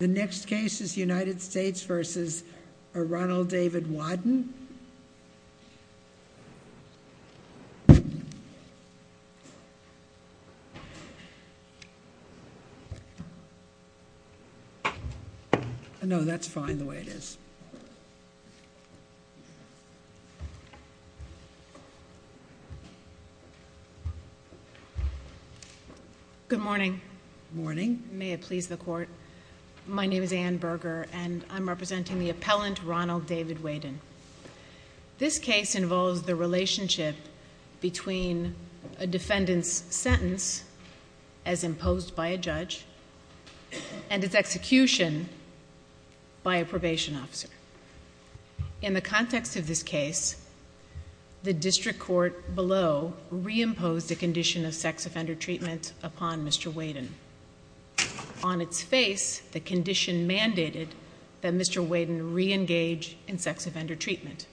The next case is United States v. Ronald David Wadden. No, that's fine the way it is. Good morning. My name is Anne Berger and I'm representing the appellant Ronald David Wadden. This case involves the relationship between a defendant's sentence, as imposed by a judge, and its execution by a probation officer. In the context of this case, the district court below re-imposed a condition of sex offender treatment upon Mr. Wadden. On its face, the condition mandated that Mr. Wadden re-engage in sex offender treatment.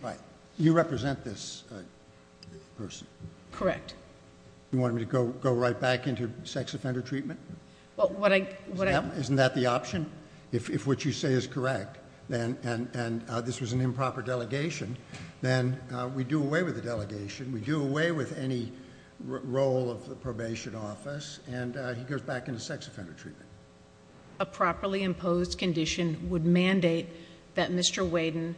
You represent this person? Correct. You want me to go right back into sex offender treatment? Isn't that the option? If what you say is correct, and this was an improper delegation, then we do away with the delegation, we do away with any role of the probation office, and he goes back into sex offender treatment. A properly imposed condition would mandate that Mr. Wadden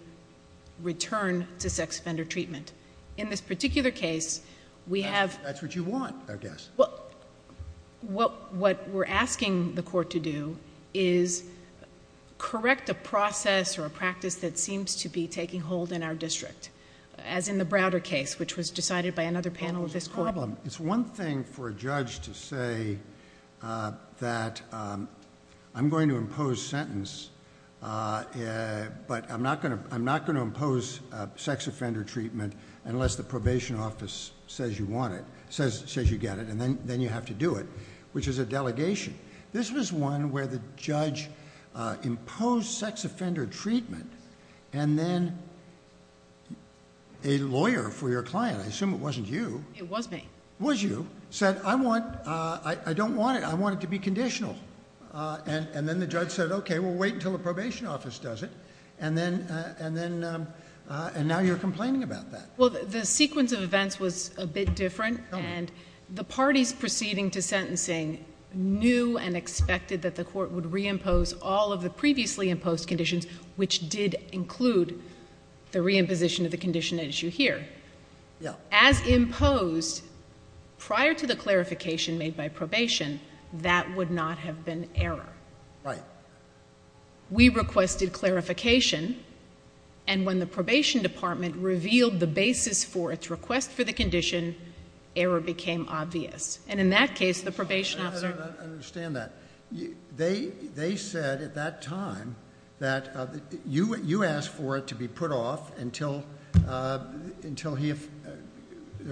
return to sex offender treatment. In this particular case, we have... That's what you want, I guess. What we're asking the court to do is correct a process or a practice that seems to be taking hold in our district, as in the Browder case, which was decided by another panel of this court. It's one thing for a judge to say that I'm going to impose sentence, but I'm not going to impose sex offender treatment unless the probation office says you want it, says you get it, and then you have to do it, which is a delegation. This was one where the judge imposed sex offender treatment, and then a lawyer for your client, I assume it wasn't you... It was me. Was you, said, I don't want it. I want it to be conditional. Then the judge said, okay, we'll wait until the probation office does it, and now you're complaining about that. Well, the sequence of events was a bit different, and the parties proceeding to sentencing knew and expected that the court would reimpose all of the previously imposed conditions, which did include the reimposition of the condition at issue here. As imposed prior to the clarification made by probation, that would not have been error. Right. We requested clarification, and when the probation department revealed the basis for its request for the condition, error became obvious. In that case, the probation officer... I understand that. They said at that time that you asked for it to be put off until there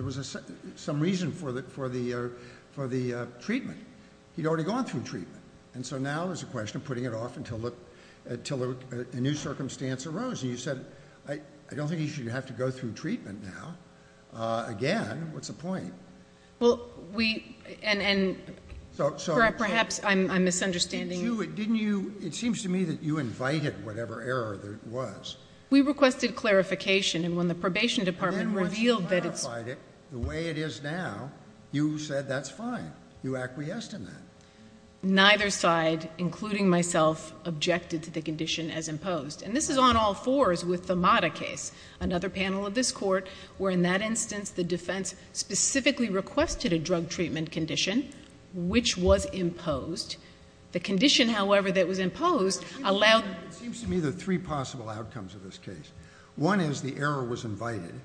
was some reason for the treatment. He'd already gone through treatment, and so now there's a question of putting it off until a new circumstance arose. And you said, I don't think he should have to go through treatment now again. What's the point? Well, we... Perhaps I'm misunderstanding. Didn't you... It seems to me that you invited whatever error there was. We requested clarification, and when the probation department revealed that it's... Neither side, including myself, objected to the condition as imposed. And this is on all fours with the Mata case, another panel of this Court, where in that instance the defense specifically requested a drug treatment condition, which was imposed. The condition, however, that was imposed allowed... It seems to me there are three possible outcomes of this case. One is the error was invited,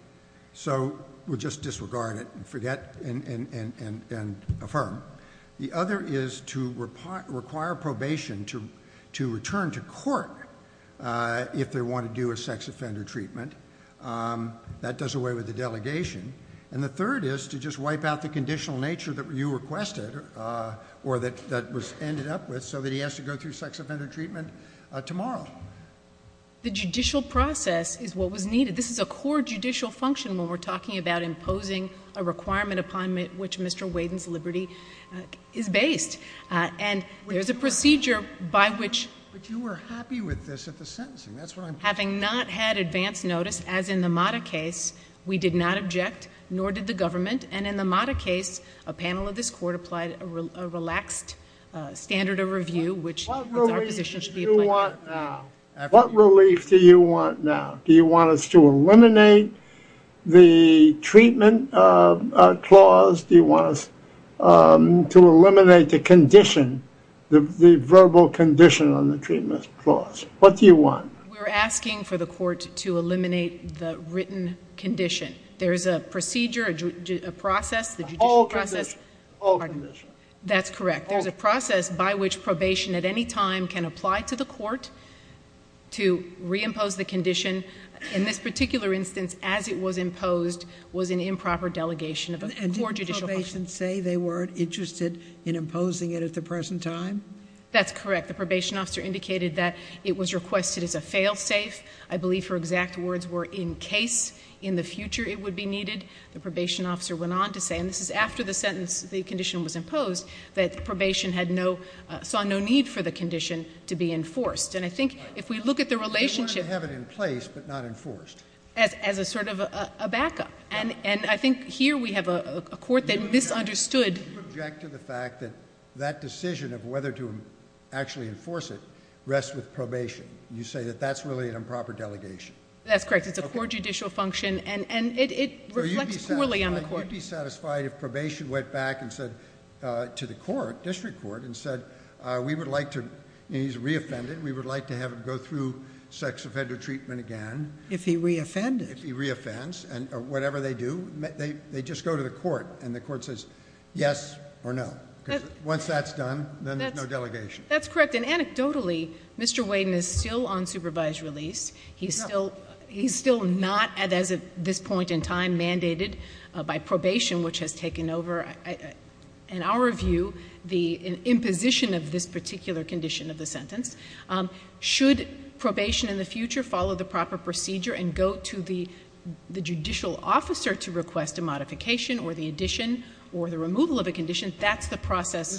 so we'll just disregard it and forget and affirm. The other is to require probation to return to court if they want to do a sex offender treatment. That does away with the delegation. And the third is to just wipe out the conditional nature that you requested, or that was ended up with, so that he has to go through sex offender treatment tomorrow. The judicial process is what was needed. This is a core judicial function when we're talking about imposing a requirement upon which Mr. Waden's liberty is based. And there's a procedure by which... But you were happy with this at the sentencing. That's what I'm... Having not had advance notice, as in the Mata case, we did not object, nor did the government. And in the Mata case, a panel of this Court applied a relaxed standard of review, which... What relief do you want now? Do you want us to eliminate the treatment clause? Do you want us to eliminate the condition, the verbal condition on the treatment clause? What do you want? We're asking for the Court to eliminate the written condition. There's a procedure, a process... All conditions. All conditions. That's correct. There's a process by which probation at any time can apply to the Court to reimpose the condition. In this particular instance, as it was imposed, was an improper delegation of a core judicial function. And didn't probation say they weren't interested in imposing it at the present time? That's correct. The probation officer indicated that it was requested as a fail-safe. I believe her exact words were, in case in the future it would be needed. The probation officer went on to say, and this is after the sentence, the condition was imposed, that probation had no, saw no need for the condition to be enforced. And I think if we look at the relationship... They wanted to have it in place, but not enforced. As a sort of a backup. And I think here we have a Court that misunderstood... You object to the fact that that decision of whether to actually enforce it rests with probation. You say that that's really an improper delegation. That's correct. It's a core judicial function. And it reflects poorly on the Court. Well, you'd be satisfied if probation went back and said to the Court, District Court, and said, we would like to, and he's re-offended, we would like to have him go through sex offender treatment again. If he re-offends. If he re-offends. And whatever they do, they just go to the Court. And the Court says, yes or no. Because once that's done, then there's no delegation. That's correct. And anecdotally, Mr. Waden is still on supervised release. He's still not, as of this point in time, mandated by probation, which has taken over, in our view, the imposition of this particular condition of the sentence. Should probation in the future follow the proper procedure and go to the judicial officer to request a modification or the addition or the removal of a condition, that's the process...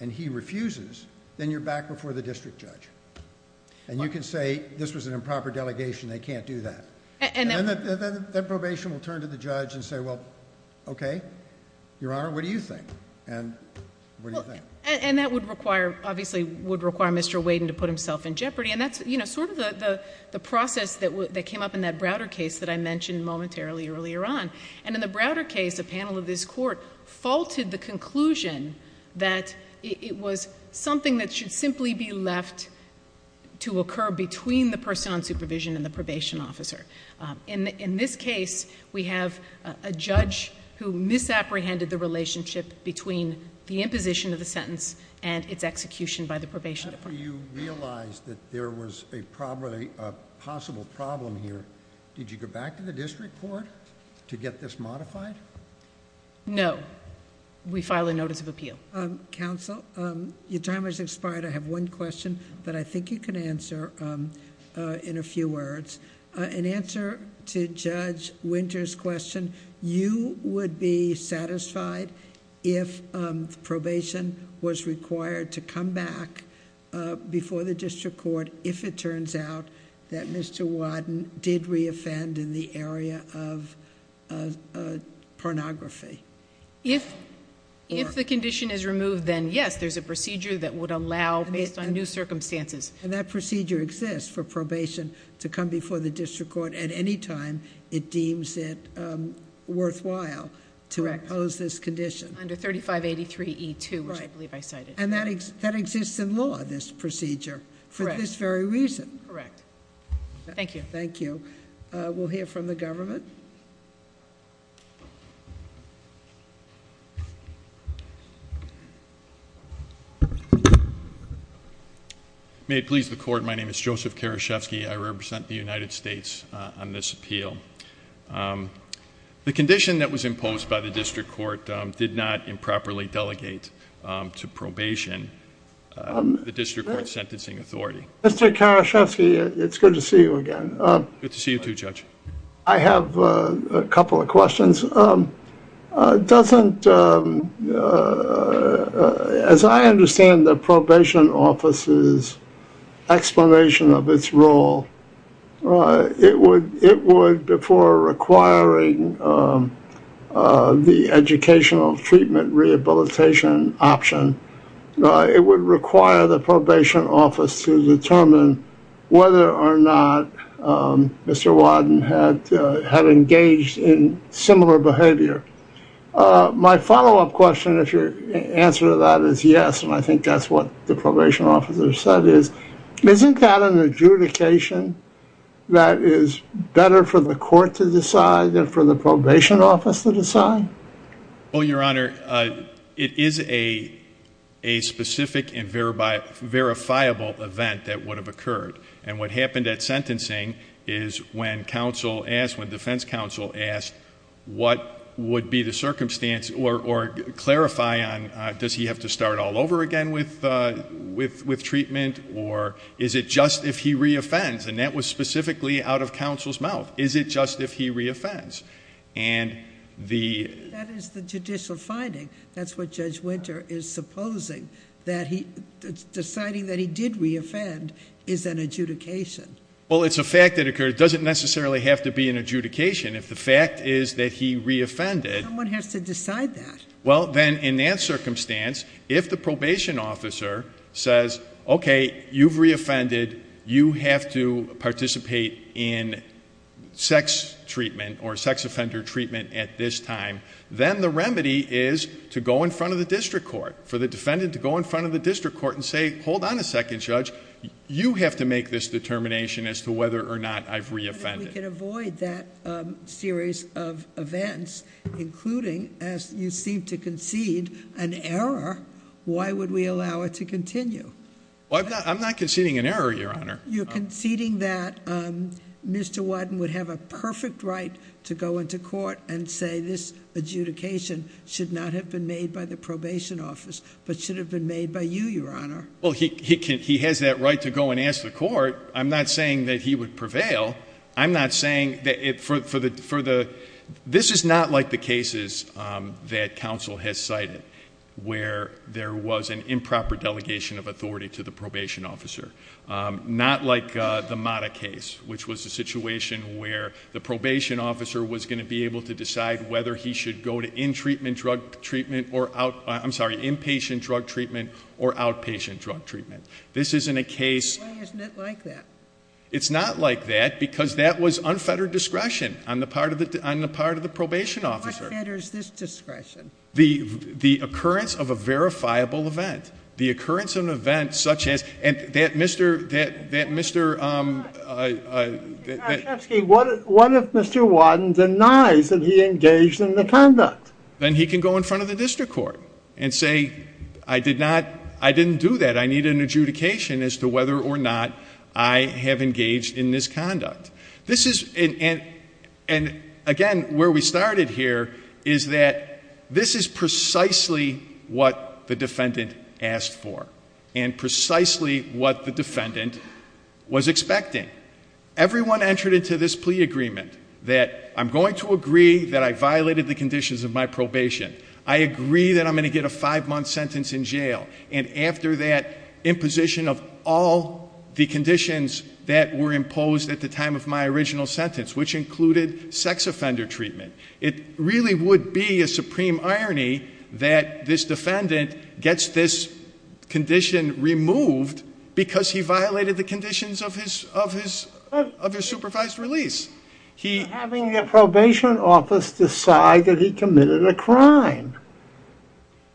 and he refuses, then you're back before the district judge. And you can say, this was an improper delegation. They can't do that. And then that probation will turn to the judge and say, well, okay, Your Honor, what do you think? And what do you think? And that would require, obviously, would require Mr. Waden to put himself in jeopardy. And that's, you know, sort of the process that came up in that Browder case that I mentioned momentarily earlier on. And in the Browder case, a panel of this Court faulted the conclusion that it was something that should simply be left to occur between the person on supervision and the probation officer. In this case, we have a judge who misapprehended the relationship between the imposition of the sentence and its execution by the probation department. After you realized that there was a problem, a possible problem here, did you go back to the district court to get this modified? No. We file a notice of appeal. Counsel, your time has expired. I have one question that I think you can answer in a few words. In answer to Judge Winter's question, you would be satisfied if probation was required to come back before the district court if it turns out that Mr. Waden did reoffend in the area of pornography. If the condition is removed, then yes, there's a procedure that would allow, based on new circumstances. And that procedure exists for probation to come before the district court at any time it deems it worthwhile to oppose this condition. Under 3583E2, which I believe I cited. And that exists in law, this procedure, for this very reason. Correct. Thank you. Thank you. We'll hear from the government. May it please the court, my name is Joseph Karaszewski. I represent the United States on this appeal. The condition that was imposed by the district court did not improperly delegate to probation the district court sentencing authority. Mr. Karaszewski, it's good to see you again. Good to see you too, Judge. I have a couple of questions. It doesn't, as I understand the probation office's explanation of its role, it would, before requiring the educational treatment rehabilitation option, it would require the probation office to determine whether or not Mr. Wadden had engaged in similar behavior. My follow-up question, if your answer to that is yes, and I think that's what the probation officer said is, isn't that an adjudication that is better for the court to decide than for the probation office to decide? Well, Your Honor, it is a specific and verifiable event that would have occurred, and what happened at sentencing is when counsel asked, when defense counsel asked, what would be the circumstance or clarify on does he have to start all over again with treatment, or is it just if he re-offends, and that was specifically out of counsel's mouth. Is it just if he re-offends? And the- That is the judicial finding. That's what Judge Winter is supposing, that deciding that he did re-offend is an adjudication. Well, it's a fact that occurred. It doesn't necessarily have to be an adjudication. If the fact is that he re-offended- Someone has to decide that. Well, then in that circumstance, if the probation officer says, okay, you've re-offended, you have to participate in sex treatment or sex offender treatment at this time, then the remedy is to go in front of the district court, for the defendant to go in front of the district court and say, hold on a second, Judge, you have to make this determination as to whether or not I've re-offended. But if we can avoid that series of events, including, as you seem to concede, an error, why would we allow it to continue? Well, I'm not conceding an error, Your Honor. You're conceding that Mr. Wadden would have a perfect right to go into court and say, this adjudication should not have been made by the probation office, but should have been made by you, Your Honor. Well, he has that right to go and ask the court. I'm not saying that he would prevail. This is not like the cases that counsel has cited, where there was an improper delegation of authority to the probation officer. Not like the Mata case, which was a situation where the probation officer was going to be able to decide whether he should go to inpatient drug treatment or outpatient drug treatment. This isn't a case- Why isn't it like that? It's not like that, because that was unfettered discretion on the part of the probation officer. What fetters this discretion? The occurrence of a verifiable event. The occurrence of an event such as- And that Mr.- What if Mr. Wadden denies that he engaged in the conduct? Then he can go in front of the district court and say, I didn't do that. I need an adjudication as to whether or not I have engaged in this conduct. And, again, where we started here is that this is precisely what the defendant asked for and precisely what the defendant was expecting. Everyone entered into this plea agreement that I'm going to agree that I violated the conditions of my probation. I agree that I'm going to get a five-month sentence in jail. And after that, imposition of all the conditions that were imposed at the time of my original sentence, which included sex offender treatment. It really would be a supreme irony that this defendant gets this condition removed because he violated the conditions of his supervised release. Having the probation office decide that he committed a crime.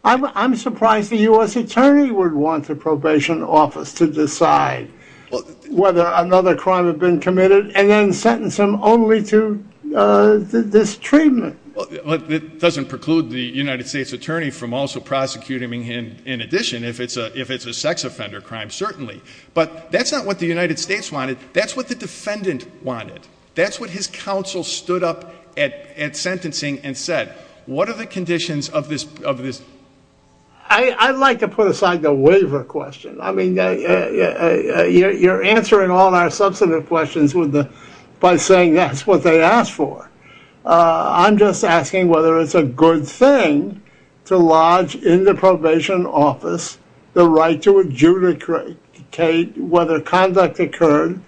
I'm surprised the U.S. attorney would want the probation office to decide whether another crime had been committed and then sentence him only to this treatment. It doesn't preclude the United States attorney from also prosecuting him in addition, if it's a sex offender crime, certainly. But that's not what the United States wanted. That's what the defendant wanted. That's what his counsel stood up at sentencing and said. What are the conditions of this? I'd like to put aside the waiver question. I mean, you're answering all our substantive questions by saying that's what they asked for. I'm just asking whether it's a good thing to lodge in the probation office the right to adjudicate whether conduct occurred,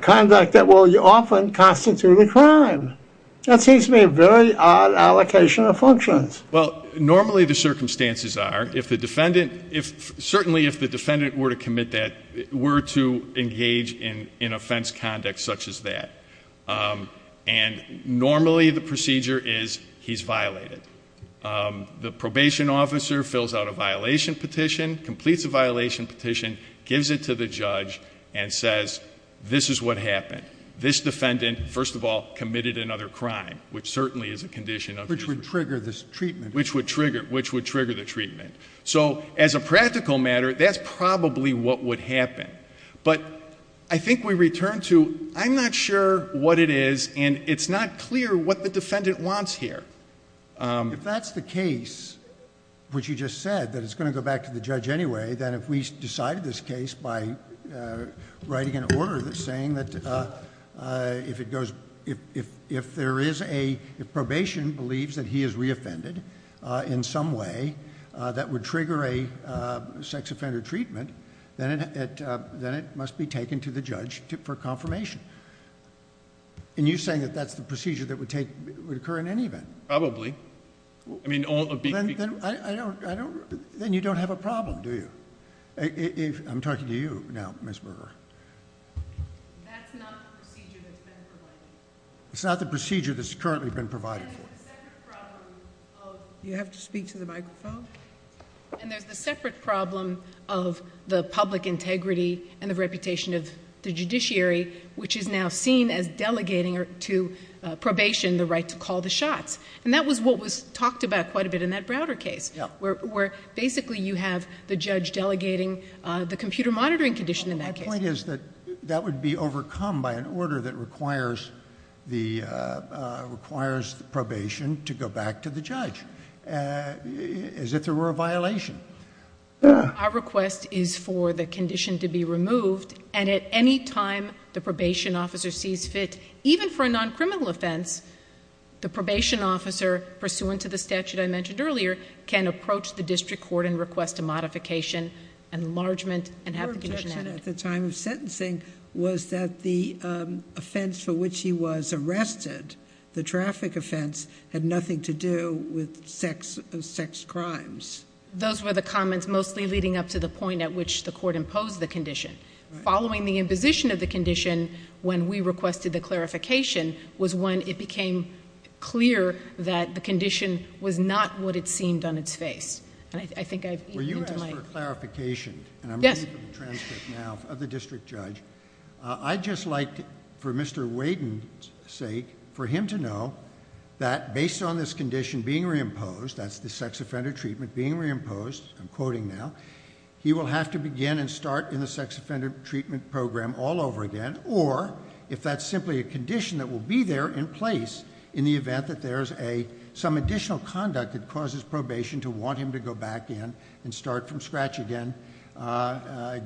conduct that will often constitute a crime. That seems to be a very odd allocation of functions. Well, normally the circumstances are, if the defendant, certainly if the defendant were to commit that, were to engage in offense conduct such as that. And normally the procedure is he's violated. The probation officer fills out a violation petition, completes a violation petition, gives it to the judge and says, this is what happened. This defendant, first of all, committed another crime, which certainly is a condition. Which would trigger this treatment. Which would trigger the treatment. So as a practical matter, that's probably what would happen. But I think we return to I'm not sure what it is and it's not clear what the defendant wants here. If that's the case, which you just said, that it's going to go back to the judge anyway, then if we decided this case by writing an order saying that if there is a, if probation believes that he is re-offended in some way that would trigger a sex offender treatment, then it must be taken to the judge for confirmation. And you're saying that that's the procedure that would occur in any event? Probably. I mean all... Then you don't have a problem, do you? I'm talking to you now, Ms. Brewer. That's not the procedure that's been provided. It's not the procedure that's currently been provided for. And there's a separate problem of... You have to speak to the microphone. And there's the separate problem of the public integrity and the reputation of the judiciary which is now seen as delegating to probation the right to call the shots. And that was what was talked about quite a bit in that Browder case where basically you have the judge delegating the computer monitoring condition in that case. My point is that that would be overcome by an order that requires the probation to go back to the judge as if there were a violation. Our request is for the condition to be removed and at any time the probation officer sees fit, even for a non-criminal offense, the probation officer, pursuant to the statute I mentioned earlier, can approach the district court and request a modification, enlargement, and have the condition added. Your objection at the time of sentencing was that the offense for which he was arrested, the traffic offense, had nothing to do with sex crimes. Those were the comments mostly leading up to the point at which the court imposed the condition. Following the imposition of the condition when we requested the clarification was when it became clear that the condition was not what it seemed on its face. And I think I've eaten into my... Were you asked for a clarification? Yes. And I'm reading from the transcript now of the district judge. I'd just like, for Mr. Waden's sake, for him to know that based on this condition being reimposed, that's the sex offender treatment being reimposed, I'm quoting now, he will have to begin and start in the sex offender treatment program all over again or if that's simply a condition that will be there in place in the event that there's some additional conduct that causes probation to want him to go back in and start from scratch again,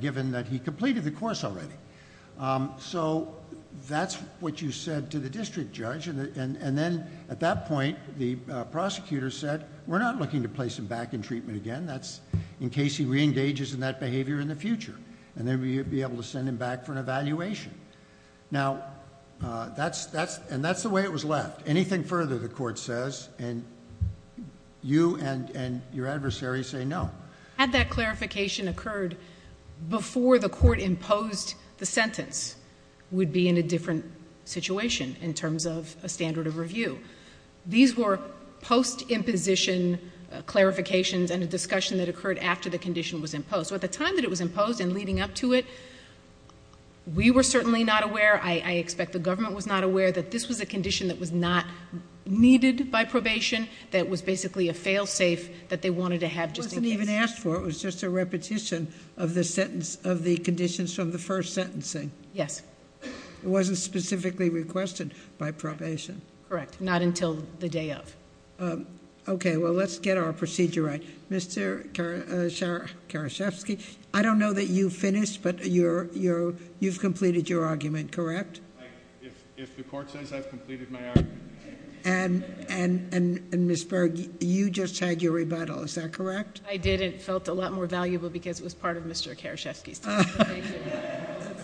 given that he completed the course already. So that's what you said to the district judge. And then at that point, the prosecutor said, we're not looking to place him back in treatment again. That's in case he reengages in that behavior in the future and then we'll be able to send him back for an evaluation. Now, and that's the way it was left. Anything further, the court says, and you and your adversary say no. Had that clarification occurred before the court imposed the sentence, we'd be in a different situation in terms of a standard of review. These were post-imposition clarifications and a discussion that occurred after the condition was imposed. So at the time that it was imposed and leading up to it, we were certainly not aware, I expect the government was not aware that this was a condition that was not needed by probation, that it was basically a fail-safe that they wanted to have just in case. It wasn't even asked for. It was just a repetition of the conditions from the first sentencing. Yes. It wasn't specifically requested by probation. Correct. Not until the day of. Okay. Well, let's get our procedure right. Mr. Karaszewski, I don't know that you finished, but you've completed your argument, correct? If the court says I've completed my argument. And Ms. Berg, you just had your rebuttal. Is that correct? I did. It felt a lot more valuable because it was part of Mr. Karaszewski's time.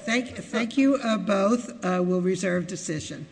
Thank you both. We'll reserve decision.